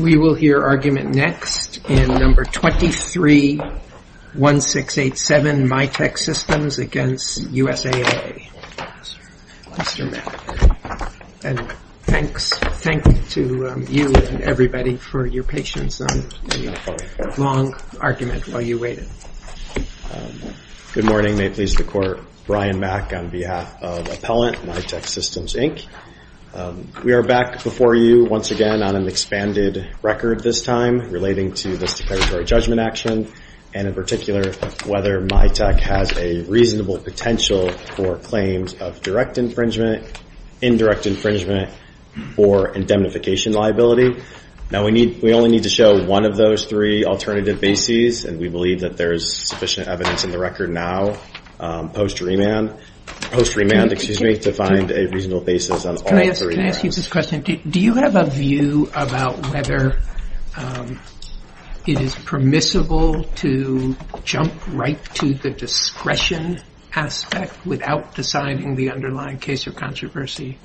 We will hear argument next in No. 23-1687, Mitek Systems v. USAA. Mr. Mack, thanks to you and everybody for your patience on the long argument while you Good morning. May it please the Court, Brian Mack on behalf of Appellant, Mitek Systems, Inc. We are back before you once again on an expanded record this time relating to this declaratory judgment action and in particular whether Mitek has a reasonable potential for claims of direct infringement, indirect infringement, or indemnification liability. Now we only need to show one of those three alternative bases and we believe that there is sufficient evidence in the record now post remand to find a reasonable basis on all three grounds. Can I ask you this question? Do you have a view about whether it is permissible to jump right to the discretion aspect without deciding the underlying case or controversy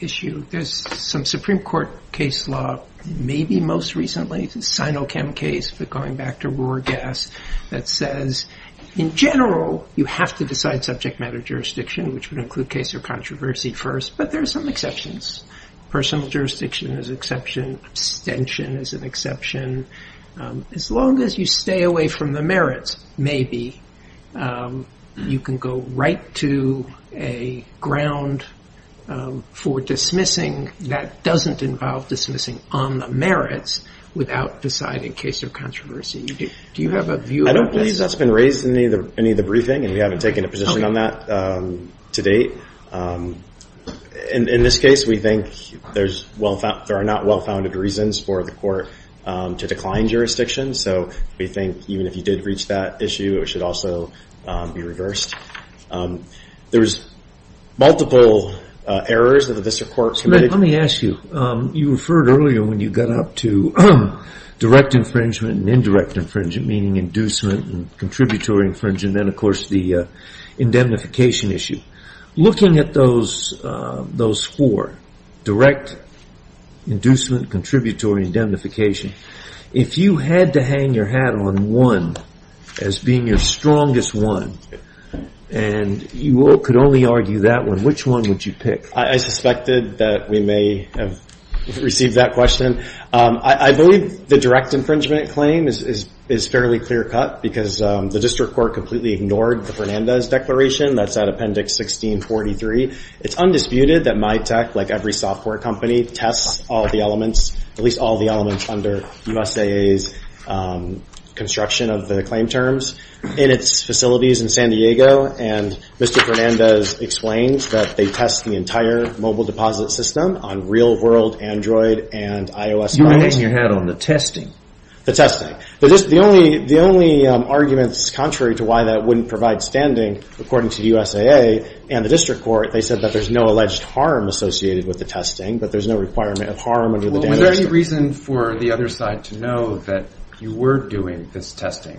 issue? There is some Supreme Court case law, maybe most recently, the Sinochem case, but going back to Roorgas, that says in general you have to decide subject matter jurisdiction, which would include case or controversy first, but there are some exceptions. Personal jurisdiction is an exception. Abstention is an exception. As long as you stay away from the merits, maybe, you can go right to a ground for dismissing that doesn't involve dismissing on the merits without deciding case or controversy. Do you have a view about this? I don't believe that's been raised in any of the briefing and we haven't taken a position on that to date. In this case, we think there are not well-founded reasons for the court to decline jurisdiction, so we think even if you did reach that issue, it should also be reversed. There's multiple errors that the district court committed. Let me ask you, you referred earlier when you got up to direct infringement and indirect infringement, meaning inducement and contributory infringement, and then, of course, the indemnification issue. Looking at those four, direct, inducement, contributory, indemnification, if you had to hang your hat on one as being your strongest one, and you could only argue that one, which one would you pick? I suspected that we may have received that question. I believe the direct infringement claim is fairly clear cut because the district court completely ignored the Fernandez Declaration. That's out of Appendix 1643. It's undisputed that MyTech, like every software company, tests all the elements, at least all the elements under the USAA's construction of the claim terms in its facilities in San Diego, and Mr. Fernandez explains that they test the entire mobile deposit system on real-world Android and iOS devices. You hang your hat on the testing. The testing. The only arguments contrary to why that wouldn't provide standing, according to the USAA and the district court, they said that there's no alleged harm associated with the testing, but there's no requirement of harm according to the district court. Was there any reason for the other side to know that you were doing this testing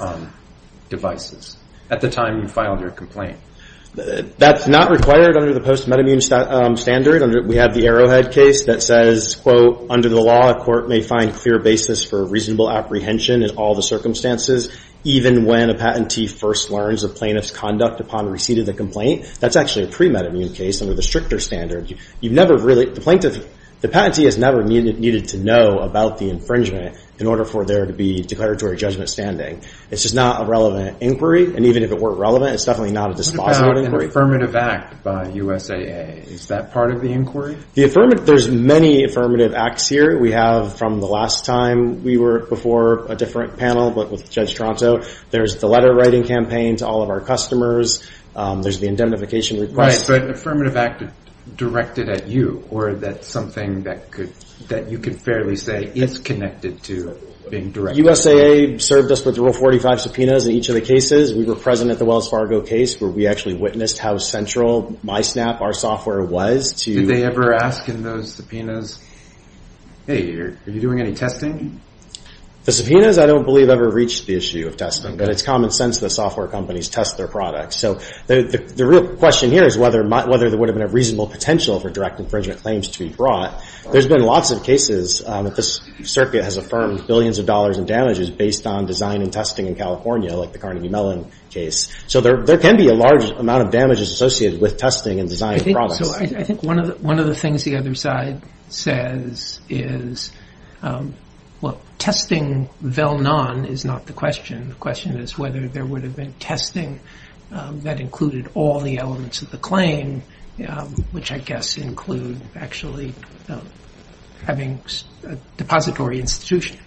on devices at the time you filed your complaint? That's not required under the post-metamune standard. We have the Arrowhead case that says, quote, under the law, a court may find clear basis for reasonable apprehension in all the circumstances, even when a patentee first learns of plaintiff's conduct upon receipt of the complaint. That's actually a pre-metamune case under the stricter standard. The patentee has never needed to know about the infringement in order for there to be declaratory judgment standing. It's just not a relevant inquiry, and even if it were relevant, it's definitely not a dispositive inquiry. What about an affirmative act by USAA? Is that part of the inquiry? There's many affirmative acts here. We have, from the last time we were before a different panel, but with Judge Toronto, there's the letter-writing campaign to all of our customers. There's the indemnification request. Right, but an affirmative act directed at you, or that's something that you can fairly say is connected to being directed? USAA served us with Rule 45 subpoenas in each of the cases. We were present at the Wells Fargo case where we actually witnessed how central MySnap, our software, was to— Did they ever ask in those subpoenas, hey, are you doing any testing? The subpoenas, I don't believe, ever reached the issue of testing, but it's common sense that software companies test their products. So the real question here is whether there would have been a reasonable potential for direct infringement claims to be brought. There's been lots of cases that this circuit has affirmed billions of dollars in damages based on design and testing in California, like the Carnegie Mellon case. So there can be a large amount of damages associated with testing and designing products. So I think one of the things the other side says is, well, testing Vellnan is not the question. The question is whether there would have been testing that included all the elements of the claim, which I guess include actually having a depository institution.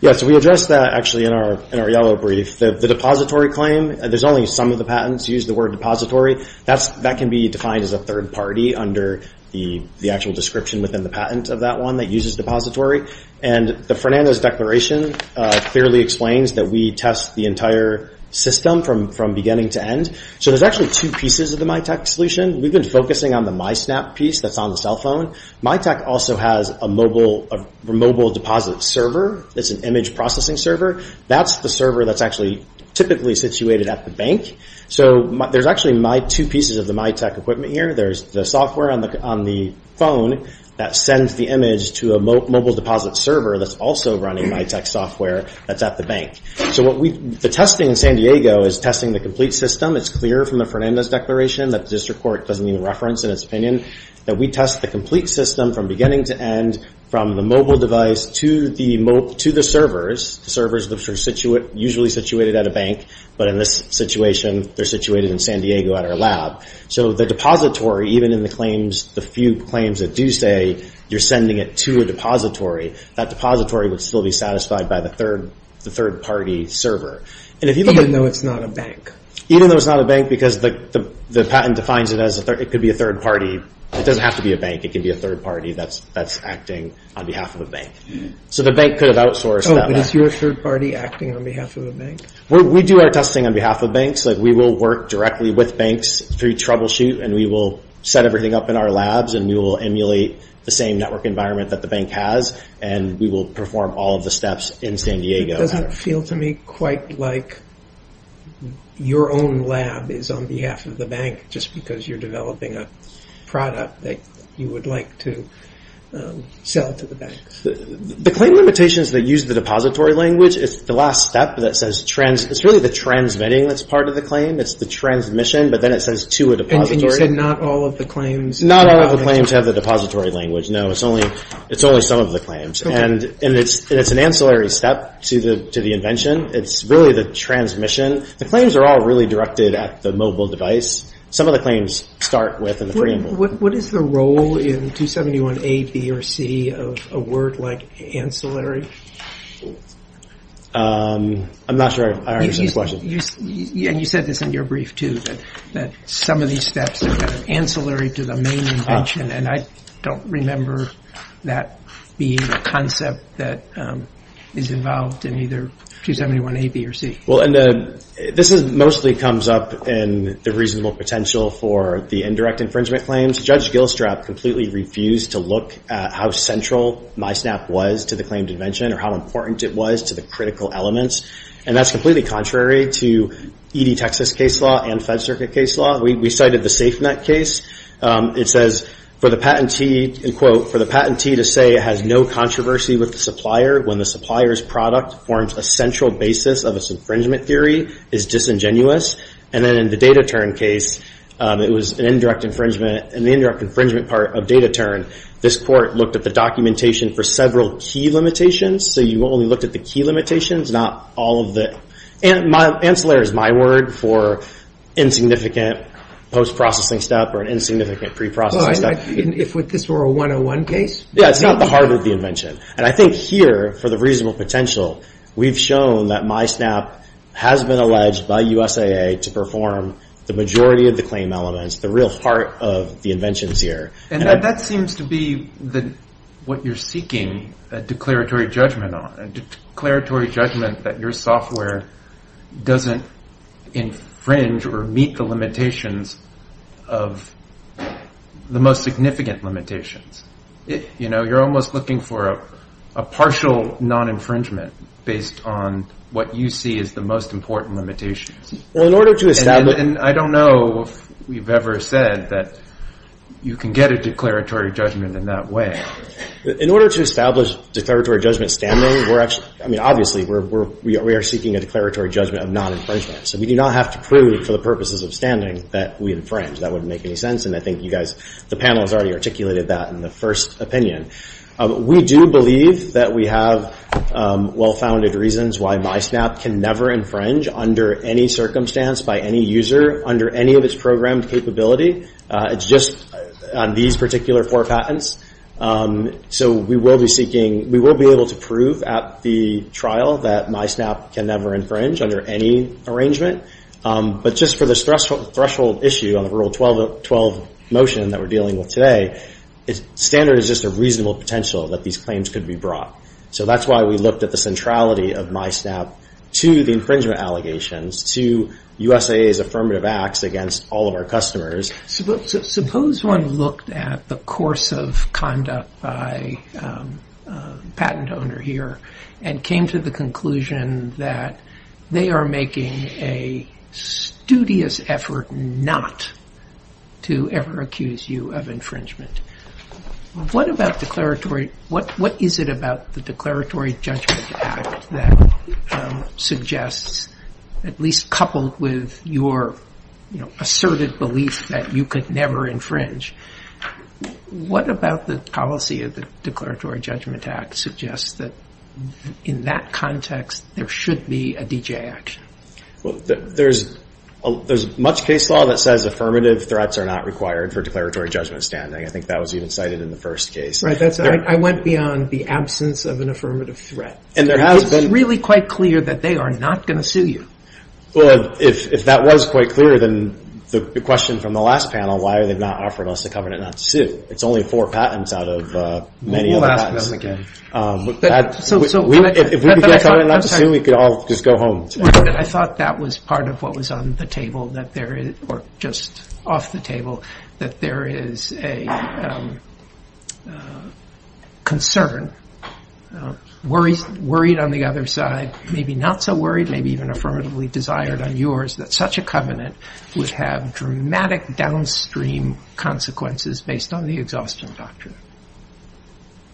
Yes, we addressed that actually in our yellow brief. The depository claim, there's only some of the patents use the word depository. That can be defined as a third party under the actual description within the patent of that one that uses depository. And Fernanda's declaration clearly explains that we test the entire system from beginning to end. So there's actually two pieces of the MyTech solution. We've been focusing on the MySnap piece that's on the cell phone. MyTech also has a mobile deposit server. It's an image processing server. That's the server that's actually typically situated at the bank. So there's actually two pieces of the MyTech equipment here. There's the software on the phone that sends the image to a mobile deposit server that's also running MyTech software that's at the bank. So the testing in San Diego is testing the complete system. It's clear from the Fernanda's declaration that the district court doesn't even reference in its opinion that we test the complete system from beginning to end, from the mobile device to the servers, the servers that are usually situated at a bank. But in this situation, they're situated in San Diego at our lab. So the depository, even in the claims, the few claims that do say you're sending it to a depository, that depository would still be satisfied by the third party server. Even though it's not a bank? Even though it's not a bank because the patent defines it as it could be a third party. It doesn't have to be a bank. It could be a third party that's acting on behalf of a bank. So the bank could have outsourced that. Oh, but is your third party acting on behalf of a bank? We do our testing on behalf of banks. We will work directly with banks through troubleshoot and we will set everything up in our labs and we will emulate the same network environment that the bank has and we will perform all of the steps in San Diego. It doesn't feel to me quite like your own lab is on behalf of the bank just because you're developing a product that you would like to sell to the banks. The claim limitations that use the depository language, it's really the transmitting that's part of the claim. It's the transmission, but then it says to a depository. And you said not all of the claims have the depository language. Not all of the claims have the depository language, no. It's only some of the claims. And it's an ancillary step to the invention. It's really the transmission. The claims are all really directed at the mobile device. Some of the claims start with the free and bold. What is the role in 271A, B, or C of a word like ancillary? I'm not sure I understand the question. And you said this in your brief too that some of these steps are kind of ancillary to the main invention and I don't remember that being a concept that is involved in either 271A, B, or C. This mostly comes up in the reasonable potential for the indirect infringement claims. Judge Gilstrap completely refused to look at how central MySnap was to the claimed invention or how important it was to the critical elements. And that's completely contrary to ED Texas case law and Fed Circuit case law. We cited the SafeNet case. It says, for the patentee, and quote, for the patentee to say it has no controversy with the supplier when the supplier's product forms a central basis of its infringement theory is disingenuous. And then in the DataTurn case, it was an indirect infringement. In the indirect infringement part of DataTurn, this court looked at the documentation for several key limitations. So you only looked at the key limitations, not all of the – ancillary is my word for insignificant post-processing step or an insignificant pre-processing step. If this were a 101 case? Yeah, it's not the heart of the invention. And I think here, for the reasonable potential, we've shown that MySnap has been alleged by USAA to perform the majority of the claim elements, the real heart of the inventions here. And that seems to be what you're seeking a declaratory judgment on, a declaratory judgment that your software doesn't infringe or meet the limitations of the most significant limitations. You're almost looking for a partial non-infringement based on what you see as the most important limitations. Well, in order to establish – And I don't know if we've ever said that you can get a declaratory judgment in that way. In order to establish declaratory judgment standing, we're actually – I mean, obviously, we are seeking a declaratory judgment of non-infringement. So we do not have to prove for the purposes of standing that we infringe. That wouldn't make any sense. And I think you guys – the panel has already articulated that in the first opinion. We do believe that we have well-founded reasons why MySnap can never infringe under any circumstance, by any user, under any of its programmed capability. It's just on these particular four patents. So we will be seeking – we will be able to prove at the trial that MySnap can never infringe under any arrangement. But just for this threshold issue on the Rule 12 motion that we're dealing with today, standard is just a reasonable potential that these claims could be brought. So that's why we looked at the centrality of MySnap to the infringement allegations, to USAA's affirmative acts against all of our customers. Suppose one looked at the course of conduct by a patent owner here and came to the conclusion that they are making a studious effort not to ever accuse you of infringement. What about declaratory – what is it about the Declaratory Judgment Act that suggests, at least coupled with your asserted belief that you could never infringe, what about the policy of the Declaratory Judgment Act suggests that in that context, there should be a D.J. action? Well, there's much case law that says affirmative threats are not required for declaratory judgment standing. I think that was even cited in the first case. Right. I went beyond the absence of an affirmative threat. And there has been – It's really quite clear that they are not going to sue you. Well, if that was quite clear, then the question from the last panel, why are they not offering us a covenant not to sue? It's only four patents out of many of the patents. We'll ask them again. If we could get a covenant not to sue, we could all just go home. I thought that was part of what was on the table, or just off the table, that there is a concern, worried on the other side, maybe not so worried, maybe even affirmatively desired on yours, that such a covenant would have dramatic downstream consequences based on the exhaustion doctrine.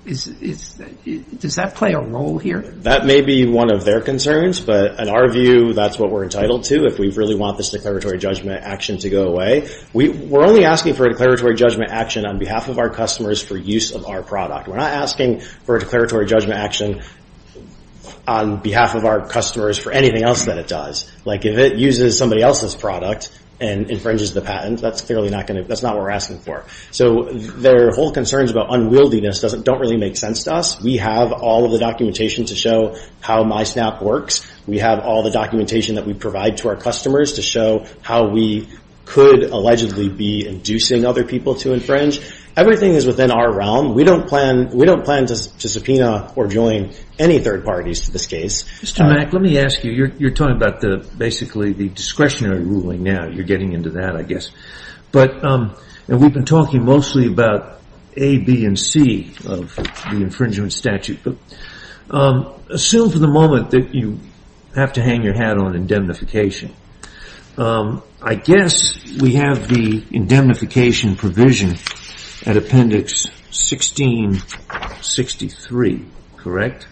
Does that play a role here? That may be one of their concerns, but in our view, that's what we're entitled to, if we really want this declaratory judgment action to go away. We're only asking for a declaratory judgment action on behalf of our customers for use of our product. We're not asking for a declaratory judgment action on behalf of our customers for anything else that it does. If it uses somebody else's product and infringes the patent, that's clearly not what we're asking for. Their whole concerns about unwieldiness don't really make sense to us. We have all of the documentation to show how MySnap works. We have all the documentation that we provide to our customers to show how we could allegedly be inducing other people to infringe. Everything is within our realm. We don't plan to subpoena or join any third parties to this case. Mr. Mack, let me ask you. You're talking about basically the discretionary ruling now. You're getting into that, I guess. We've been talking mostly about A, B, and C of the infringement statute. Assume for the moment that you have to hang your hat on indemnification. I guess we have the indemnification provision at Appendix 1663, correct?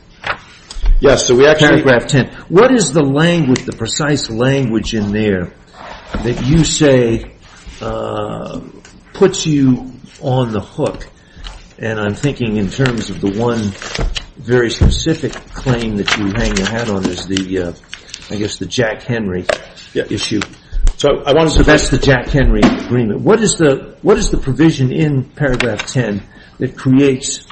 Yes. Paragraph 10. What is the precise language in there that you say puts you on the hook? I'm thinking in terms of the one very specific claim that you hang your hat on is the, I guess, the Jack Henry issue. That's the Jack Henry agreement. What is the provision in paragraph 10 that creates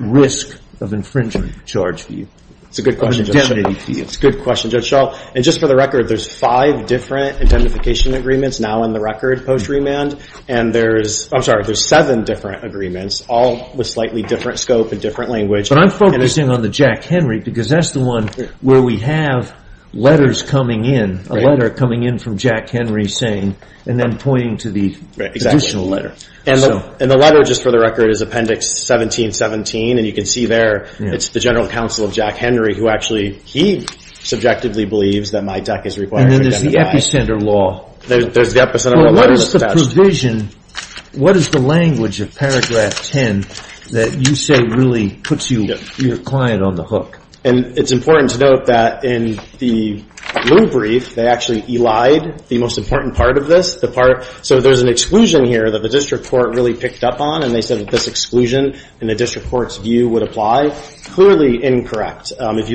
risk of infringement charge for you? It's a good question, Judge Shaw. Just for the record, there's five different indemnification agreements now on the record post remand. I'm sorry, there's seven different agreements, all with slightly different scope and different language. But I'm focusing on the Jack Henry because that's the one where we have letters coming in, a letter coming in from Jack Henry saying, and then pointing to the additional letter. And the letter, just for the record, is Appendix 1717, and you can see there it's the General Counsel of Jack Henry who actually, he subjectively believes that my deck is required to identify. And then there's the epicenter law. Well, what is the provision, what is the language of paragraph 10 that you say really puts your client on the hook? And it's important to note that in the blue brief, they actually elide the most important part of this. So there's an exclusion here that the district court really picked up on, and they said that this exclusion in the district court's view would apply. Clearly incorrect. Again,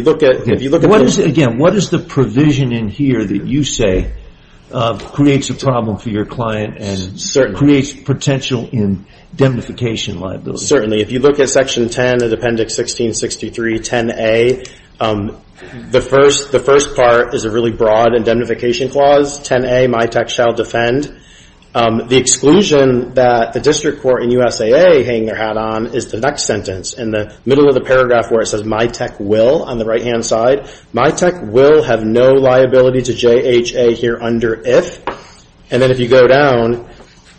what is the provision in here that you say creates a problem for your client and creates potential indemnification liability? Certainly. If you look at Section 10 of Appendix 1663, 10A, the first part is a really broad indemnification clause. 10A, my tech shall defend. The exclusion that the district court and USAA hang their hat on is the next sentence, in the middle of the paragraph where it says my tech will on the right-hand side. My tech will have no liability to JHA here under if. And then if you go down,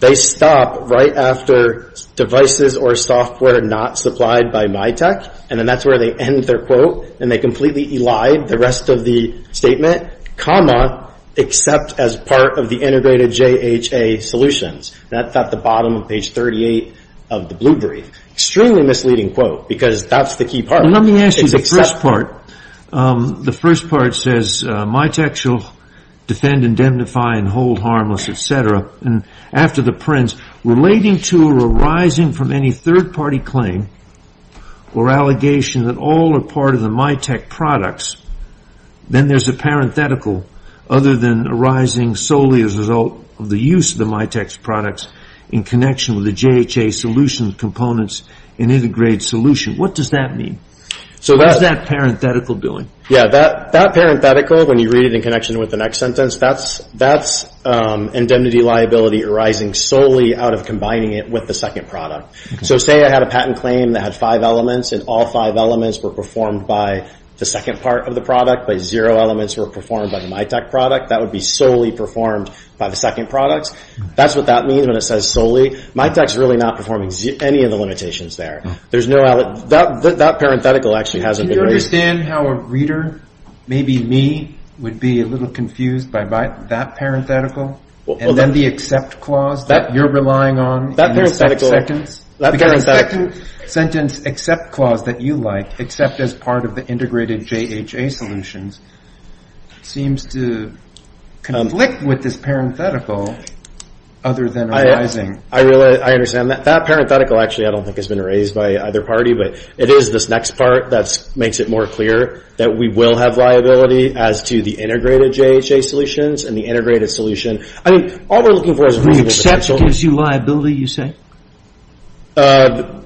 they stop right after devices or software not supplied by my tech, and then that's where they end their quote, and they completely elide the rest of the statement, comma, except as part of the integrated JHA solutions. And that's at the bottom of page 38 of the blue brief. Extremely misleading quote because that's the key part. Let me ask you the first part. The first part says my tech shall defend, indemnify, and hold harmless, et cetera. And after the print, relating to or arising from any third-party claim or allegation that all are part of the my tech products, then there's a parenthetical other than arising solely as a result of the use of the my tech's products in connection with the JHA solution components in integrated solution. What does that mean? What is that parenthetical doing? Yeah, that parenthetical, when you read it in connection with the next sentence, that's indemnity liability arising solely out of combining it with the second product. So say I had a patent claim that had five elements, and all five elements were performed by the second part of the product, but zero elements were performed by the my tech product. That would be solely performed by the second products. That's what that means when it says solely. My tech's really not performing any of the limitations there. That parenthetical actually hasn't been raised. Can you understand how a reader, maybe me, would be a little confused by that parenthetical and then the accept clause that you're relying on in the second sentence? The second sentence accept clause that you like, except as part of the integrated JHA solutions, seems to conflict with this parenthetical other than arising. I understand that. That parenthetical actually I don't think has been raised by either party, but it is this next part that makes it more clear that we will have liability as to the integrated JHA solutions and the integrated solution. I mean, all we're looking for is reasonable potential. The accept gives you liability, you say? Where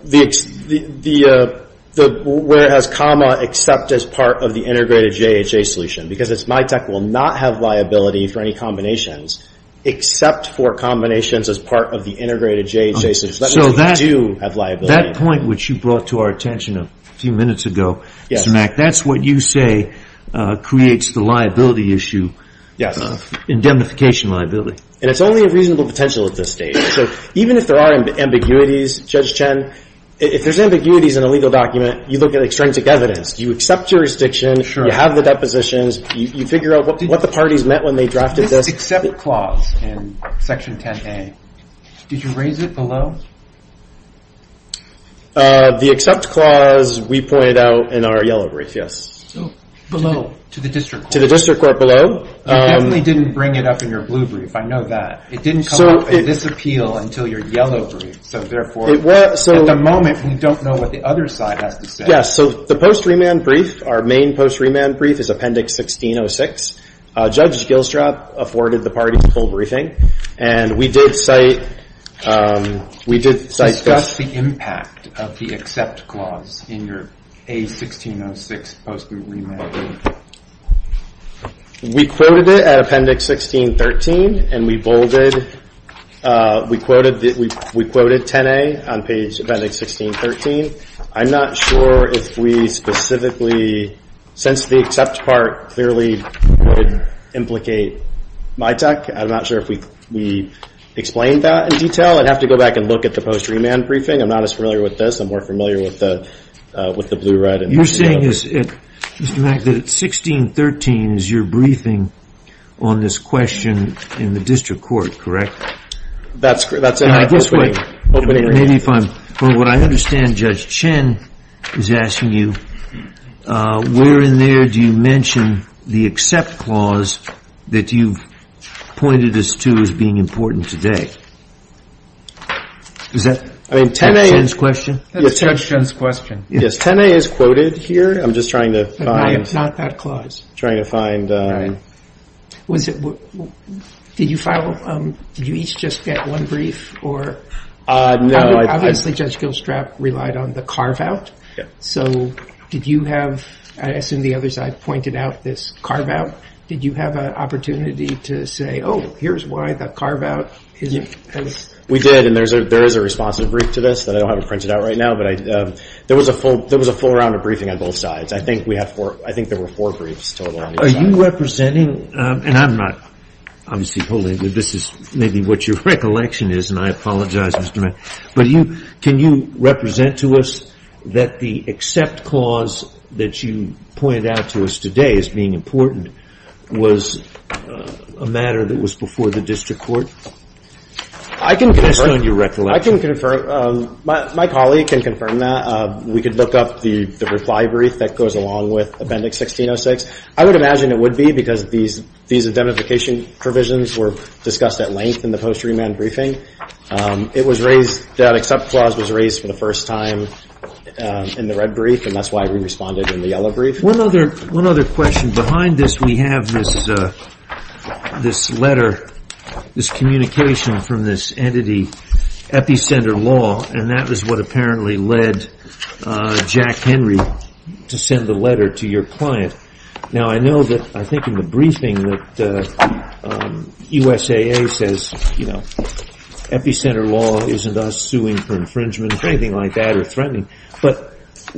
it has comma except as part of the integrated JHA solution because it's my tech will not have liability for any combinations except for combinations as part of the integrated JHA solution. That means we do have liability. That point which you brought to our attention a few minutes ago, Mr. Mack, that's what you say creates the liability issue, indemnification liability. It's only a reasonable potential at this stage. So even if there are ambiguities, Judge Chen, if there's ambiguities in a legal document, you look at extrinsic evidence. You accept jurisdiction. You have the depositions. You figure out what the parties meant when they drafted this. This accept clause in Section 10A, did you raise it below? The accept clause we pointed out in our yellow brief, yes. Below, to the district court. To the district court below. You definitely didn't bring it up in your blue brief. I know that. It didn't come up in this appeal until your yellow brief. So, therefore, at the moment we don't know what the other side has to say. Yes. So the post-remand brief, our main post-remand brief is Appendix 1606. Judge Gilstrap afforded the parties full briefing. And we did cite this. Discuss the impact of the accept clause in your A1606 post-remand brief. We quoted it at Appendix 1613. And we bolded, we quoted 10A on page Appendix 1613. I'm not sure if we specifically, since the accept part clearly would implicate MITAC, I'm not sure if we explained that in detail. I'd have to go back and look at the post-remand briefing. I'm not as familiar with this. I'm more familiar with the blue-red. You're saying, Mr. Mack, that at 1613 is your briefing on this question in the district court, correct? That's correct. This way. Maybe if I'm, from what I understand, Judge Chen is asking you, where in there do you mention the accept clause that you've pointed us to as being important today? Is that Judge Chen's question? That's Judge Chen's question. Yes, 10A is quoted here. I'm just trying to find- Not that clause. Trying to find- All right. Did you each just get one brief? No. Obviously, Judge Gilstrap relied on the carve-out. So did you have, I assume the others had pointed out this carve-out. Did you have an opportunity to say, oh, here's why the carve-out is- We did, and there is a responsive brief to this that I don't have it printed out right now. But there was a full round of briefing on both sides. I think there were four briefs total on each side. Are you representing, and I'm not obviously holding it. This is maybe what your recollection is, and I apologize, Mr. Mack. But can you represent to us that the accept clause that you pointed out to us today as being important was a matter that was before the district court? I can confirm- Based on your recollection. My colleague can confirm that. We could look up the reply brief that goes along with Appendix 1606. I would imagine it would be because these identification provisions were discussed at length in the post-remand briefing. It was raised, that accept clause was raised for the first time in the red brief, and that's why we responded in the yellow brief. One other question. Behind this, we have this letter, this communication from this entity, Epicenter Law, and that was what apparently led Jack Henry to send the letter to your client. Now, I know that I think in the briefing that USAA says Epicenter Law isn't us suing for infringement or anything like that or threatening. But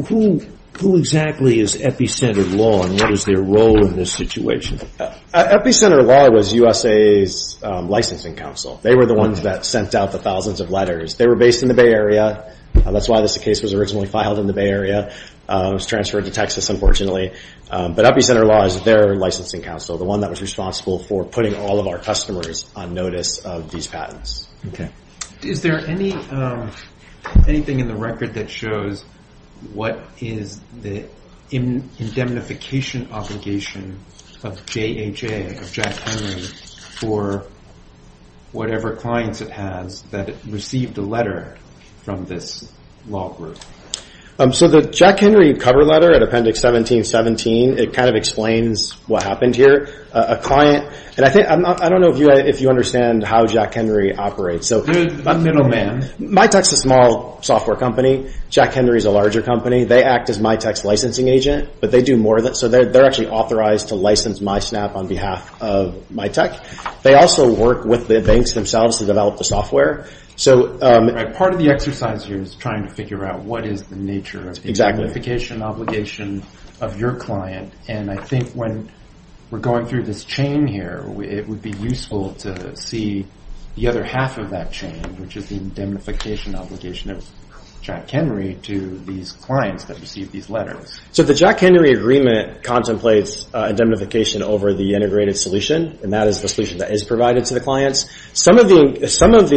who exactly is Epicenter Law, and what is their role in this situation? Epicenter Law was USA's licensing council. They were the ones that sent out the thousands of letters. They were based in the Bay Area. That's why this case was originally filed in the Bay Area. It was transferred to Texas, unfortunately. But Epicenter Law is their licensing council, the one that was responsible for putting all of our customers on notice of these patents. Is there anything in the record that shows what is the indemnification obligation of JHA, of Jack Henry, for whatever clients it has that received a letter from this law group? So the Jack Henry cover letter at Appendix 1717, it kind of explains what happened here. I don't know if you understand how Jack Henry operates. I'm the middle man. Mytek is a small software company. Jack Henry is a larger company. They act as Mytek's licensing agent. They're actually authorized to license MySnap on behalf of Mytek. They also work with the banks themselves to develop the software. Part of the exercise here is trying to figure out what is the nature of the indemnification obligation of your client. And I think when we're going through this chain here, it would be useful to see the other half of that chain, which is the indemnification obligation of Jack Henry to these clients that received these letters. So the Jack Henry agreement contemplates indemnification over the integrated solution, and that is the solution that is provided to the clients. Some of the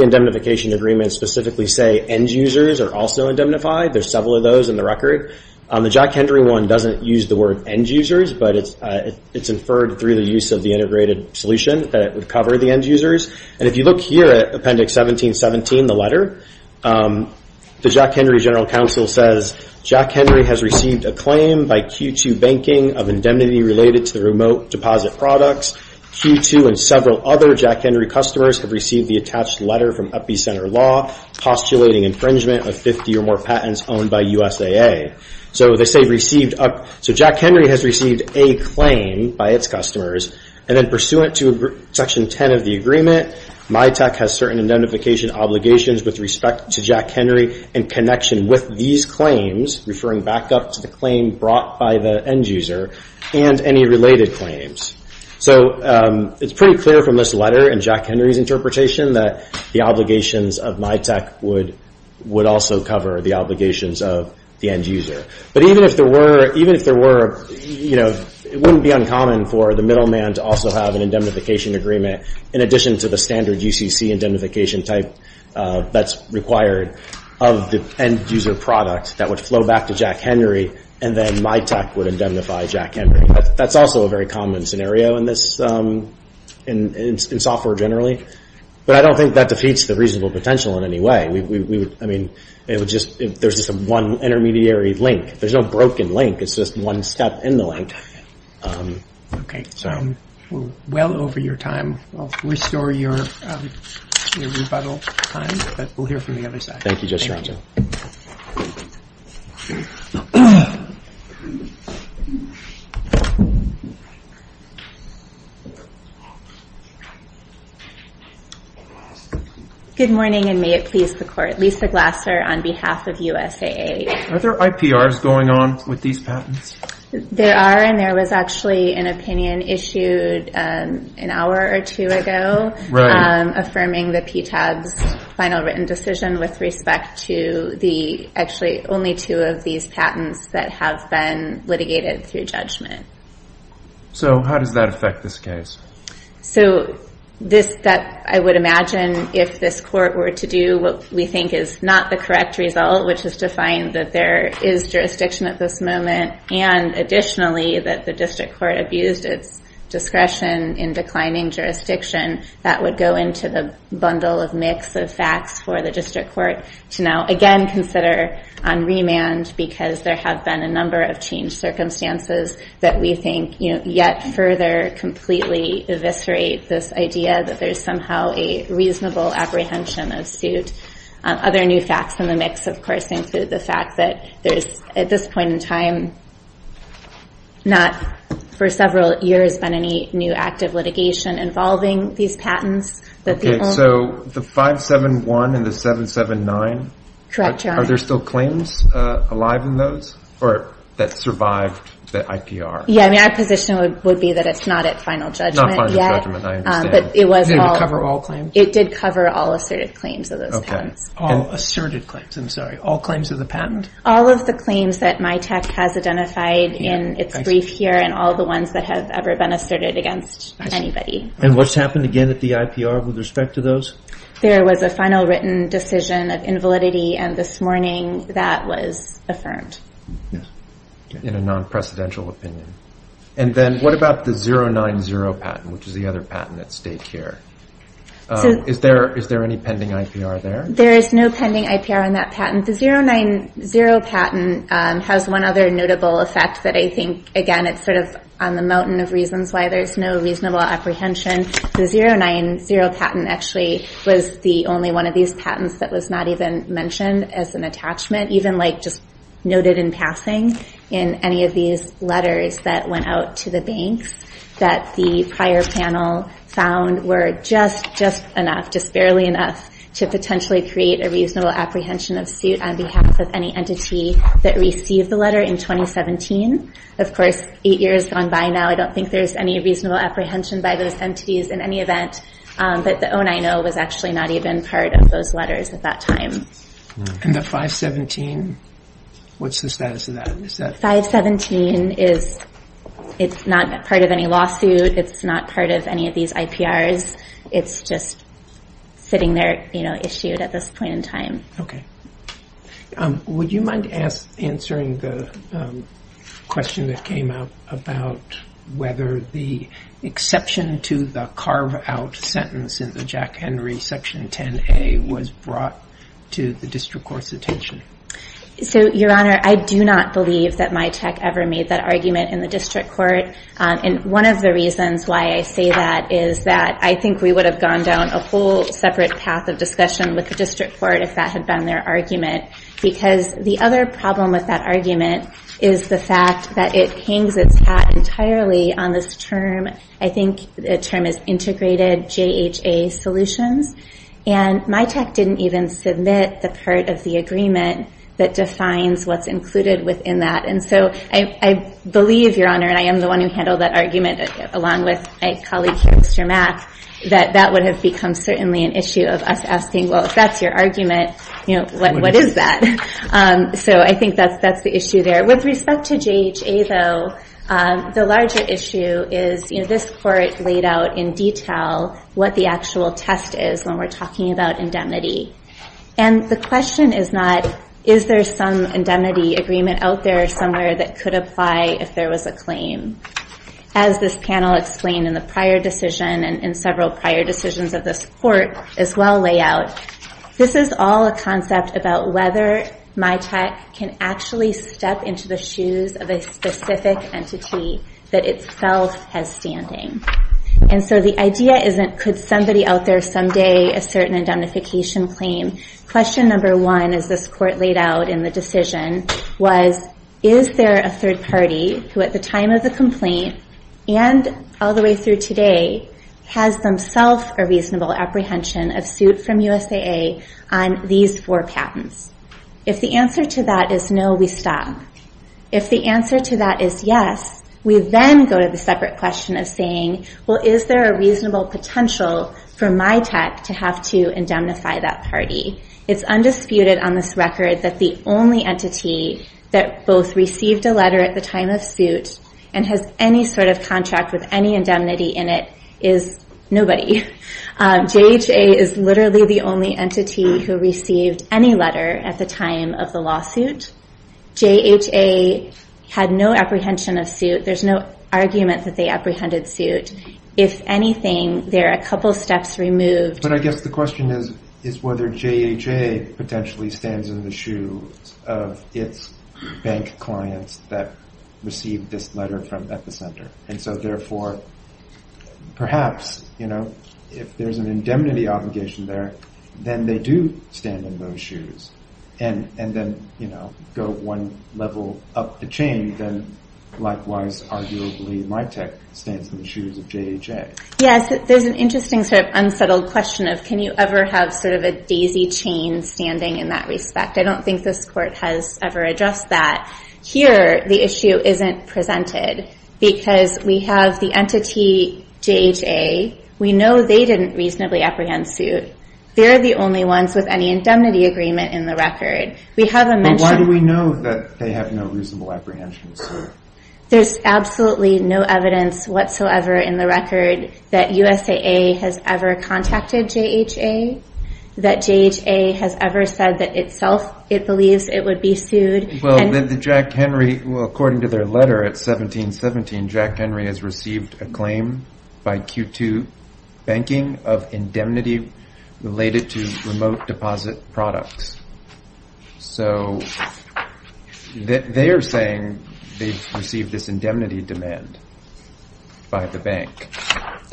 indemnification agreements specifically say end users are also indemnified. There are several of those in the record. The Jack Henry one doesn't use the word end users, but it's inferred through the use of the integrated solution that it would cover the end users. And if you look here at Appendix 1717, the letter, the Jack Henry General Counsel says, Jack Henry has received a claim by Q2 Banking of indemnity related to the remote deposit products. Q2 and several other Jack Henry customers have received the attached letter from EpiCenter Law postulating infringement of 50 or more patents owned by USAA. So they say received, so Jack Henry has received a claim by its customers, and then pursuant to Section 10 of the agreement, MiTech has certain indemnification obligations with respect to Jack Henry in connection with these claims, referring back up to the claim brought by the end user, and any related claims. So it's pretty clear from this letter and Jack Henry's interpretation that the obligations of MiTech would also cover the obligations of the end user. But even if there were, you know, it wouldn't be uncommon for the middleman to also have an indemnification agreement in addition to the standard UCC indemnification type that's required of the end user product that would flow back to Jack Henry, and then MiTech would indemnify Jack Henry. That's also a very common scenario in this, in software generally. But I don't think that defeats the reasonable potential in any way. We would, I mean, it would just, there's just one intermediary link. There's no broken link. It's just one step in the link. Okay. We're well over your time. I'll restore your rebuttal time, but we'll hear from the other side. Thank you, Judge Strong. Thank you. Good morning, and may it please the Court. Lisa Glasser on behalf of USAA. Are there IPRs going on with these patents? There are, and there was actually an opinion issued an hour or two ago affirming the PTAB's final written decision with respect to the actually only two of these patents that have been litigated through judgment. So how does that affect this case? So this, I would imagine if this Court were to do what we think is not the correct result, which is to find that there is jurisdiction at this moment, and additionally that the District Court abused its discretion in declining jurisdiction, that would go into the bundle of mix of facts for the District Court to now again consider on remand because there have been a number of changed circumstances that we think yet further completely eviscerate this idea that there's somehow a reasonable apprehension of suit. Other new facts in the mix, of course, include the fact that there's, at this point in time, not for several years been any new active litigation involving these patents. Okay. So the 571 and the 779? Correct, Your Honor. Are there still claims alive in those that survived the IPR? Yeah, my position would be that it's not at final judgment yet. Not final judgment, I understand. But it was all- It didn't cover all claims? It did cover all asserted claims of those patents. Okay. All asserted claims, I'm sorry. All claims of the patent? All of the claims that MITAC has identified in its brief here and all the ones that have ever been asserted against anybody. And what's happened again at the IPR with respect to those? There was a final written decision of invalidity and this morning that was affirmed. Yes. In a non-precedential opinion. And then what about the 090 patent, which is the other patent at stake here? Is there any pending IPR there? There is no pending IPR on that patent. The 090 patent has one other notable effect that I think, again, it's sort of on the mountain of reasons why there's no reasonable apprehension. The 090 patent actually was the only one of these patents that was not even mentioned as an attachment, even just noted in passing in any of these letters that went out to the banks that the prior panel found were just enough, just barely enough, to potentially create a reasonable apprehension of suit on behalf of any entity that received the letter in 2017. Of course, eight years gone by now, I don't think there's any reasonable apprehension by those entities in any event. But the 090 was actually not even part of those letters at that time. And the 517, what's the status of that? 517 is not part of any lawsuit. It's not part of any of these IPRs. It's just sitting there issued at this point in time. Okay. Would you mind answering the question that came up about whether the exception to the carve-out sentence in the Jack Henry Section 10A was brought to the district court's attention? So, Your Honor, I do not believe that MITAC ever made that argument in the district court. And one of the reasons why I say that is that I think we would have gone down a whole separate path of discussion with the district court if that had been their argument. Because the other problem with that argument is the fact that it hangs its hat entirely on this term. I think the term is integrated JHA solutions. And MITAC didn't even submit the part of the agreement that defines what's included within that. And so I believe, Your Honor, and I am the one who handled that argument along with my colleague, Mr. Mack, that that would have become certainly an issue of us asking, well, if that's your argument, what is that? So I think that's the issue there. With respect to JHA, though, the larger issue is this court laid out in detail what the actual test is when we're talking about indemnity. And the question is not, is there some indemnity agreement out there somewhere that could apply if there was a claim. As this panel explained in the prior decision and in several prior decisions of this court as well lay out, this is all a concept about whether MITAC can actually step into the shoes of a specific entity that itself has standing. And so the idea isn't, could somebody out there someday assert an indemnification claim? Question number one, as this court laid out in the decision, was, is there a third party who at the time of the complaint and all the way through today has themselves a reasonable apprehension of suit from USAA on these four patents? If the answer to that is no, we stop. If the answer to that is yes, we then go to the separate question of saying, well, is there a reasonable potential for MITAC to have to indemnify that party? It's undisputed on this record that the only entity that both received a letter at the time of suit and has any sort of contract with any indemnity in it is nobody. JHA is literally the only entity who received any letter at the time of the lawsuit. JHA had no apprehension of suit. There's no argument that they apprehended suit. If anything, there are a couple steps removed. But I guess the question is whether JHA potentially stands in the shoes of its bank clients that received this letter at the center. And so therefore, perhaps, you know, if there's an indemnity obligation there, then they do stand in those shoes. And then, you know, go one level up the chain, then likewise, arguably, MITAC stands in the shoes of JHA. Yes, there's an interesting sort of unsettled question of, can you ever have sort of a daisy chain standing in that respect? I don't think this court has ever addressed that. Here, the issue isn't presented because we have the entity, JHA. We know they didn't reasonably apprehend suit. They're the only ones with any indemnity agreement in the record. Why do we know that they have no reasonable apprehension of suit? There's absolutely no evidence whatsoever in the record that USAA has ever contacted JHA, that JHA has ever said that itself it believes it would be sued. Well, then the Jack Henry, well, according to their letter at 1717, Jack Henry has received a claim by Q2 banking of indemnity related to remote deposit products. So they are saying they've received this indemnity demand by the bank.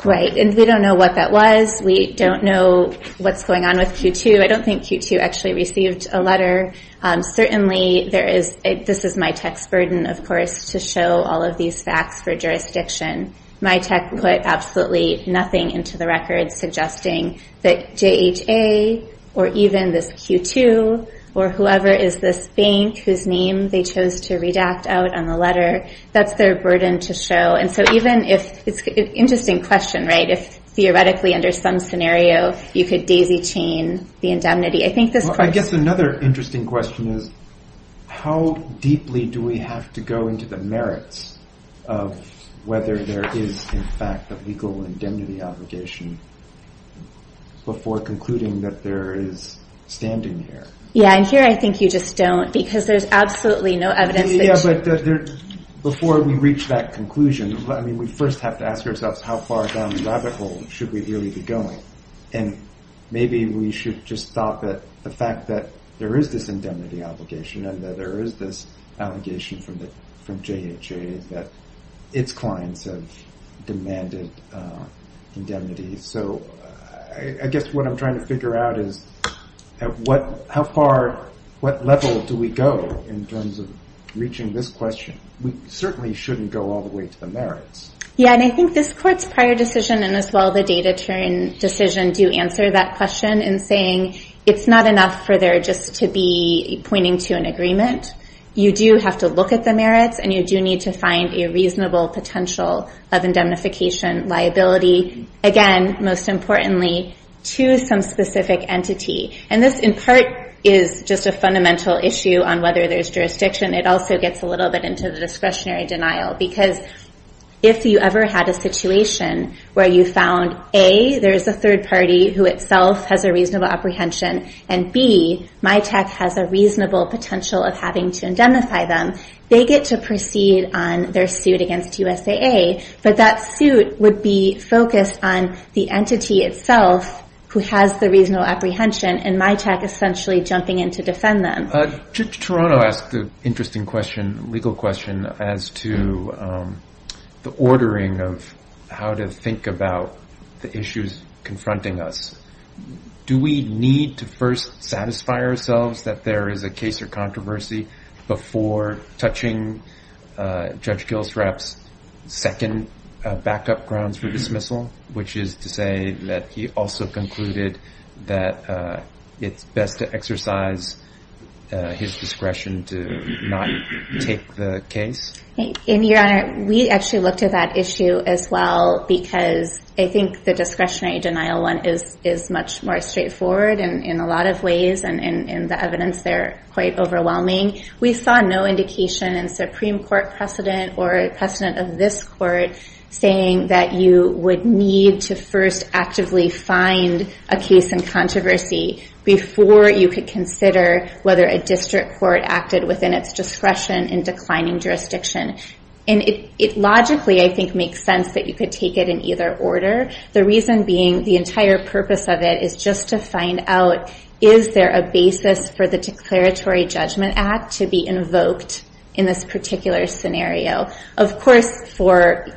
Right, and we don't know what that was. We don't know what's going on with Q2. I don't think Q2 actually received a letter. Certainly, this is MITEC's burden, of course, to show all of these facts for jurisdiction. MITEC put absolutely nothing into the record suggesting that JHA or even this Q2 or whoever is this bank whose name they chose to redact out on the letter, that's their burden to show. And so even if it's an interesting question, right, if theoretically under some scenario you could daisy chain the indemnity. I guess another interesting question is how deeply do we have to go into the merits of whether there is, in fact, a legal indemnity obligation before concluding that there is standing here. Yeah, and here I think you just don't because there's absolutely no evidence. Yeah, but before we reach that conclusion, we first have to ask ourselves how far down the rabbit hole should we really be going. And maybe we should just stop at the fact that there is this indemnity obligation and that there is this allegation from JHA that its clients have demanded indemnity. So I guess what I'm trying to figure out is at what level do we go in terms of reaching this question. We certainly shouldn't go all the way to the merits. Yeah, and I think this court's prior decision and as well the data turn decision do answer that question in saying it's not enough for there just to be pointing to an agreement. You do have to look at the merits, and you do need to find a reasonable potential of indemnification liability, again, most importantly, to some specific entity. And this in part is just a fundamental issue on whether there's jurisdiction. It also gets a little bit into the discretionary denial because if you ever had a situation where you found A, there's a third party who itself has a reasonable apprehension, and B, MITAC has a reasonable potential of having to indemnify them, they get to proceed on their suit against USAA. But that suit would be focused on the entity itself who has the reasonable apprehension and MITAC essentially jumping in to defend them. Judge Toronto asked an interesting question, legal question, as to the ordering of how to think about the issues confronting us. Do we need to first satisfy ourselves that there is a case or controversy before touching Judge Gilsrapp's second backup grounds for dismissal, which is to say that he also concluded that it's best to exercise his discretion to not take the case? Your Honor, we actually looked at that issue as well because I think the discretionary denial one is much more straightforward in a lot of ways, and in the evidence they're quite overwhelming. We saw no indication in Supreme Court precedent or precedent of this court saying that you would need to first actively find a case in controversy before you could consider whether a district court acted within its discretion in declining jurisdiction. And it logically, I think, makes sense that you could take it in either order, the reason being the entire purpose of it is just to find out, is there a basis for the Declaratory Judgment Act to be invoked in this particular scenario? Of course, for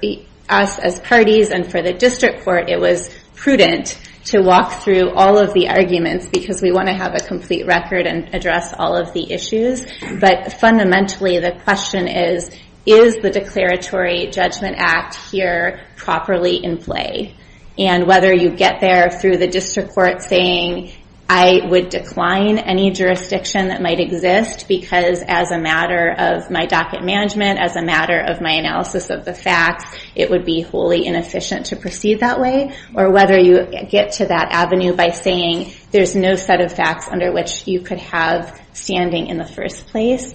us as parties and for the district court, it was prudent to walk through all of the arguments because we want to have a complete record and address all of the issues, but fundamentally the question is, is the Declaratory Judgment Act here properly in play? And whether you get there through the district court saying, I would decline any jurisdiction that might exist because as a matter of my docket management, as a matter of my analysis of the facts, it would be wholly inefficient to proceed that way, or whether you get to that avenue by saying there's no set of facts under which you could have standing in the first place.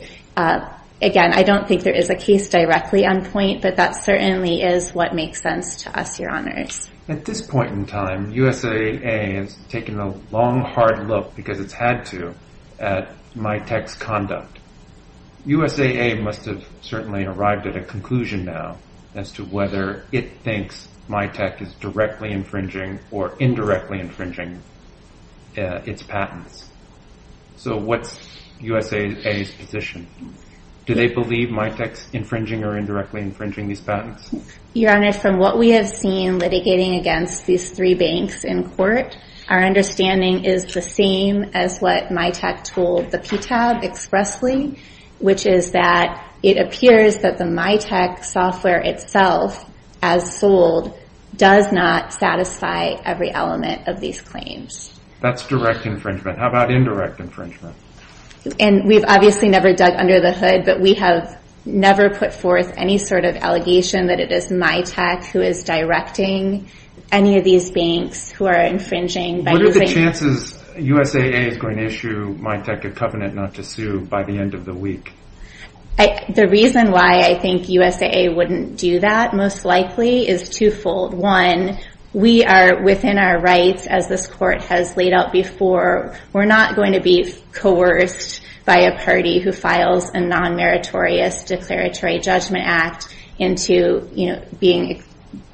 Again, I don't think there is a case directly on point, but that certainly is what makes sense to us, Your Honors. At this point in time, USAA has taken a long, hard look, because it's had to, at MITEC's conduct. USAA must have certainly arrived at a conclusion now as to whether it thinks MITEC is directly infringing or indirectly infringing its patents. So what's USAA's position? Do they believe MITEC's infringing or indirectly infringing these patents? Your Honor, from what we have seen litigating against these three banks in court, our understanding is the same as what MITEC told the PTAB expressly, which is that it appears that the MITEC software itself, as sold, does not satisfy every element of these claims. That's direct infringement. How about indirect infringement? And we've obviously never dug under the hood, but we have never put forth any sort of allegation that it is MITEC who is directing any of these banks who are infringing. What are the chances USAA is going to issue MITEC a covenant not to sue by the end of the week? The reason why I think USAA wouldn't do that, most likely, is twofold. One, we are, within our rights, as this Court has laid out before, we're not going to be coerced by a party who files a non-meritorious declaratory judgment act into being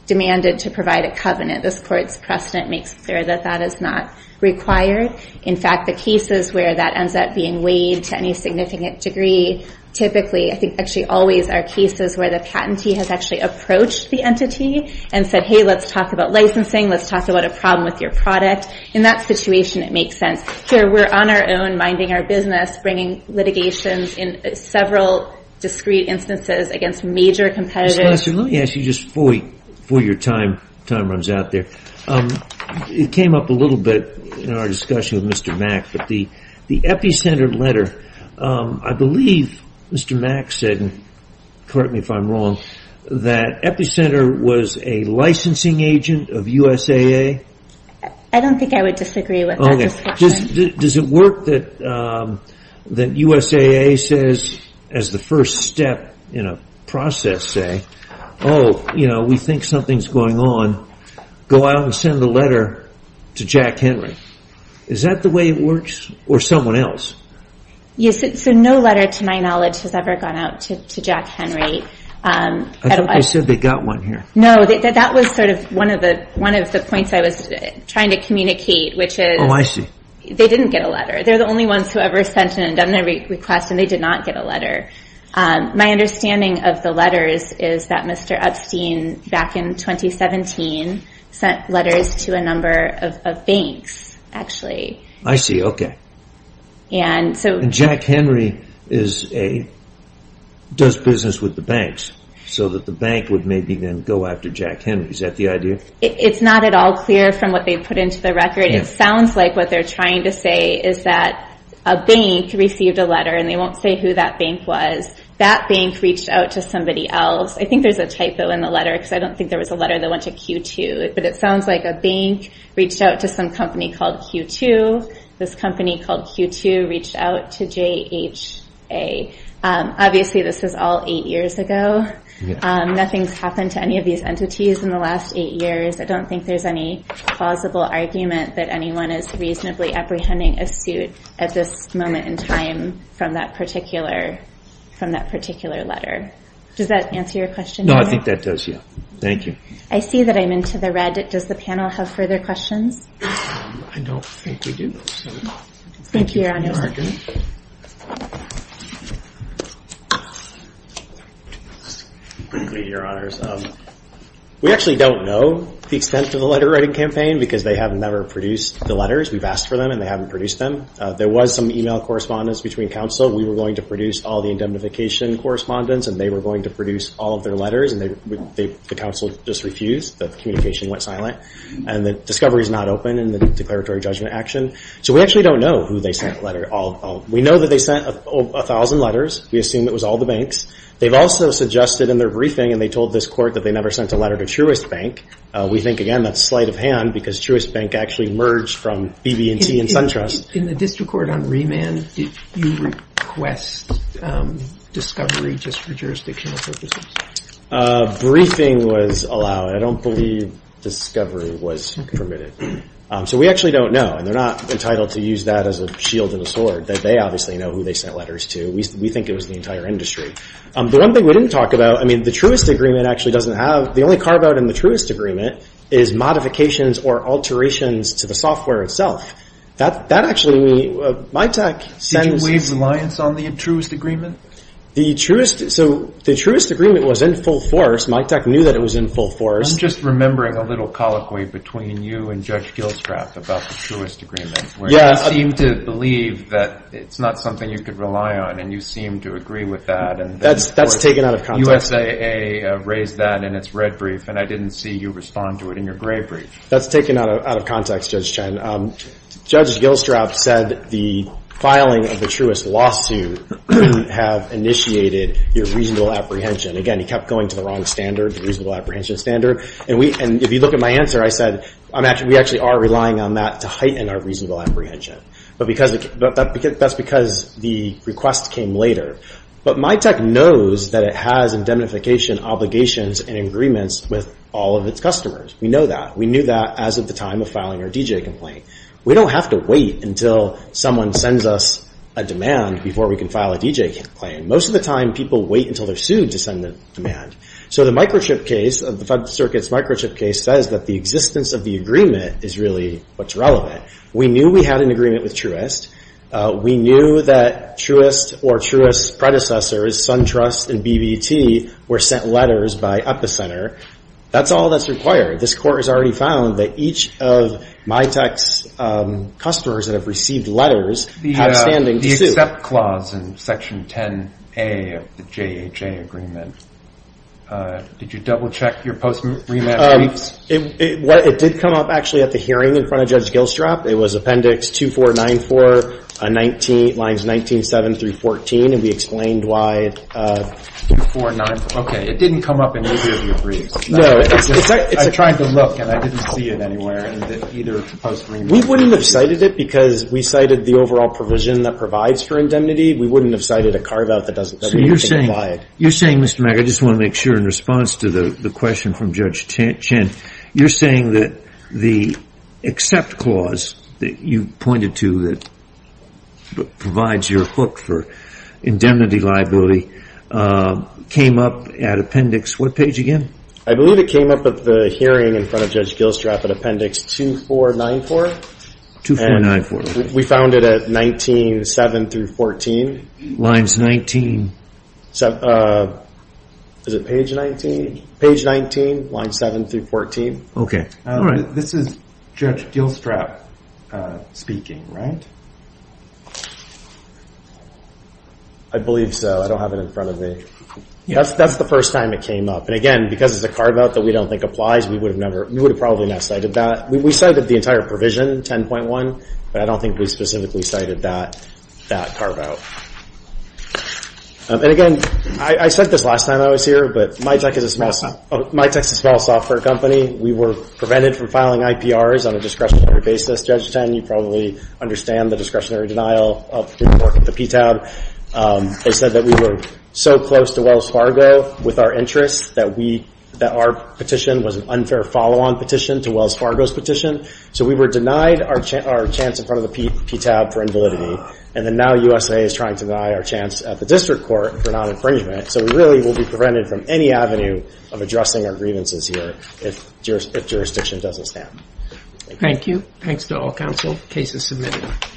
demanded to provide a covenant. This Court's precedent makes clear that that is not required. In fact, the cases where that ends up being weighed to any significant degree, typically, I think actually always, are cases where the patentee has actually approached the entity and said, hey, let's talk about licensing, let's talk about a problem with your product. In that situation, it makes sense. Here, we're on our own, minding our business, bringing litigations in several discrete instances against major competitors. Ms. Glasser, let me ask you, just before your time runs out there, it came up a little bit in our discussion with Mr. Mack, but the Epicenter letter, I believe Mr. Mack said, correct me if I'm wrong, that Epicenter was a licensing agent of USAA? I don't think I would disagree with that discussion. Does it work that USAA says, as the first step in a process, say, oh, we think something's going on, go out and send a letter to Jack Henry. Is that the way it works, or someone else? Yes, so no letter, to my knowledge, has ever gone out to Jack Henry. I thought they said they got one here. No, that was sort of one of the points I was trying to communicate, which is Oh, I see. They didn't get a letter. They're the only ones who ever sent an indemnity request, and they did not get a letter. My understanding of the letters is that Mr. Epstein, back in 2017, sent letters to a number of banks, actually. I see, okay. Jack Henry does business with the banks, so that the bank would maybe then go after Jack Henry. Is that the idea? It's not at all clear from what they put into the record. It sounds like what they're trying to say is that a bank received a letter, and they won't say who that bank was. That bank reached out to somebody else. I think there's a typo in the letter, because I don't think there was a letter that went to Q2. But it sounds like a bank reached out to some company called Q2. This company called Q2 reached out to JHA. Obviously, this was all eight years ago. Nothing's happened to any of these entities in the last eight years. I don't think there's any plausible argument that anyone is reasonably apprehending a suit at this moment in time from that particular letter. Does that answer your question? No, I think that does, yeah. Thank you. I see that I'm into the red. Does the panel have further questions? I don't think we do. Thank you, Your Honors. We actually don't know the extent of the letter-writing campaign, because they have never produced the letters. We've asked for them, and they haven't produced them. There was some e-mail correspondence between counsel. We were going to produce all the indemnification correspondence, and they were going to produce all of their letters. And the counsel just refused. The communication went silent. And the discovery is not open in the declaratory judgment action. So we actually don't know who they sent the letter to. We know that they sent 1,000 letters. We assume it was all the banks. They've also suggested in their briefing, and they told this court that they never sent a letter to Truist Bank. We think, again, that's sleight of hand, because Truist Bank actually merged from BB&T and SunTrust. In the district court on remand, did you request discovery just for jurisdictional purposes? A briefing was allowed. I don't believe discovery was permitted. So we actually don't know, and they're not entitled to use that as a shield and a sword. They obviously know who they sent letters to. We think it was the entire industry. The one thing we didn't talk about, I mean, the Truist Agreement actually doesn't have – the only carve-out in the Truist Agreement is modifications or alterations to the software itself. That actually – MiTek sends – Did you waive reliance on the Truist Agreement? The Truist – so the Truist Agreement was in full force. MiTek knew that it was in full force. I'm just remembering a little colloquy between you and Judge Gilstrap about the Truist Agreement. Yeah. Where you seem to believe that it's not something you could rely on, and you seem to agree with that. That's taken out of context. The USAA raised that in its red brief, and I didn't see you respond to it in your gray brief. That's taken out of context, Judge Chen. Judge Gilstrap said the filing of the Truist lawsuit would have initiated your reasonable apprehension. Again, he kept going to the wrong standard, the reasonable apprehension standard. And if you look at my answer, I said we actually are relying on that to heighten our reasonable apprehension. But that's because the request came later. But MiTek knows that it has indemnification obligations and agreements with all of its customers. We know that. We knew that as of the time of filing our DJ complaint. We don't have to wait until someone sends us a demand before we can file a DJ complaint. Most of the time, people wait until they're sued to send a demand. So the microchip case, the Federal Circuit's microchip case, says that the existence of the agreement is really what's relevant. We knew we had an agreement with Truist. We knew that Truist or Truist's predecessors, SunTrust and BBT, were sent letters by Epicenter. That's all that's required. This Court has already found that each of MiTek's customers that have received letters have standing to sue. Except clause in Section 10A of the JHA agreement. Did you double-check your post-rematch briefs? It did come up actually at the hearing in front of Judge Gilstrap. It was Appendix 2494, lines 19, 7 through 14, and we explained why. 2494. Okay. It didn't come up in any of your briefs. No. I tried to look and I didn't see it anywhere in either post-rematch. We wouldn't have cited it because we cited the overall provision that provides for indemnity. We wouldn't have cited a carve-out that doesn't provide. So you're saying, Mr. Mack, I just want to make sure in response to the question from Judge Chen, you're saying that the except clause that you pointed to that provides your hook for indemnity liability came up at Appendix what page again? I believe it came up at the hearing in front of Judge Gilstrap at Appendix 2494. 2494. We found it at 19, 7 through 14. Lines 19. Is it page 19? Page 19, lines 7 through 14. Okay. This is Judge Gilstrap speaking, right? I believe so. I don't have it in front of me. That's the first time it came up. And again, because it's a carve-out that we don't think applies, we would have probably not cited that. We cited the entire provision, 10.1, but I don't think we specifically cited that carve-out. And again, I said this last time I was here, but MyTech is a small software company. We were prevented from filing IPRs on a discretionary basis. Judge Chen, you probably understand the discretionary denial of the PTAB. They said that we were so close to Wells Fargo with our interests that our petition was an unfair follow-on petition to Wells Fargo's petition. So we were denied our chance in front of the PTAB for invalidity. And then now USA is trying to deny our chance at the district court for non-infringement. So we really will be prevented from any avenue of addressing our grievances here if jurisdiction doesn't stand. Thank you. Thanks to all counsel. Case is submitted.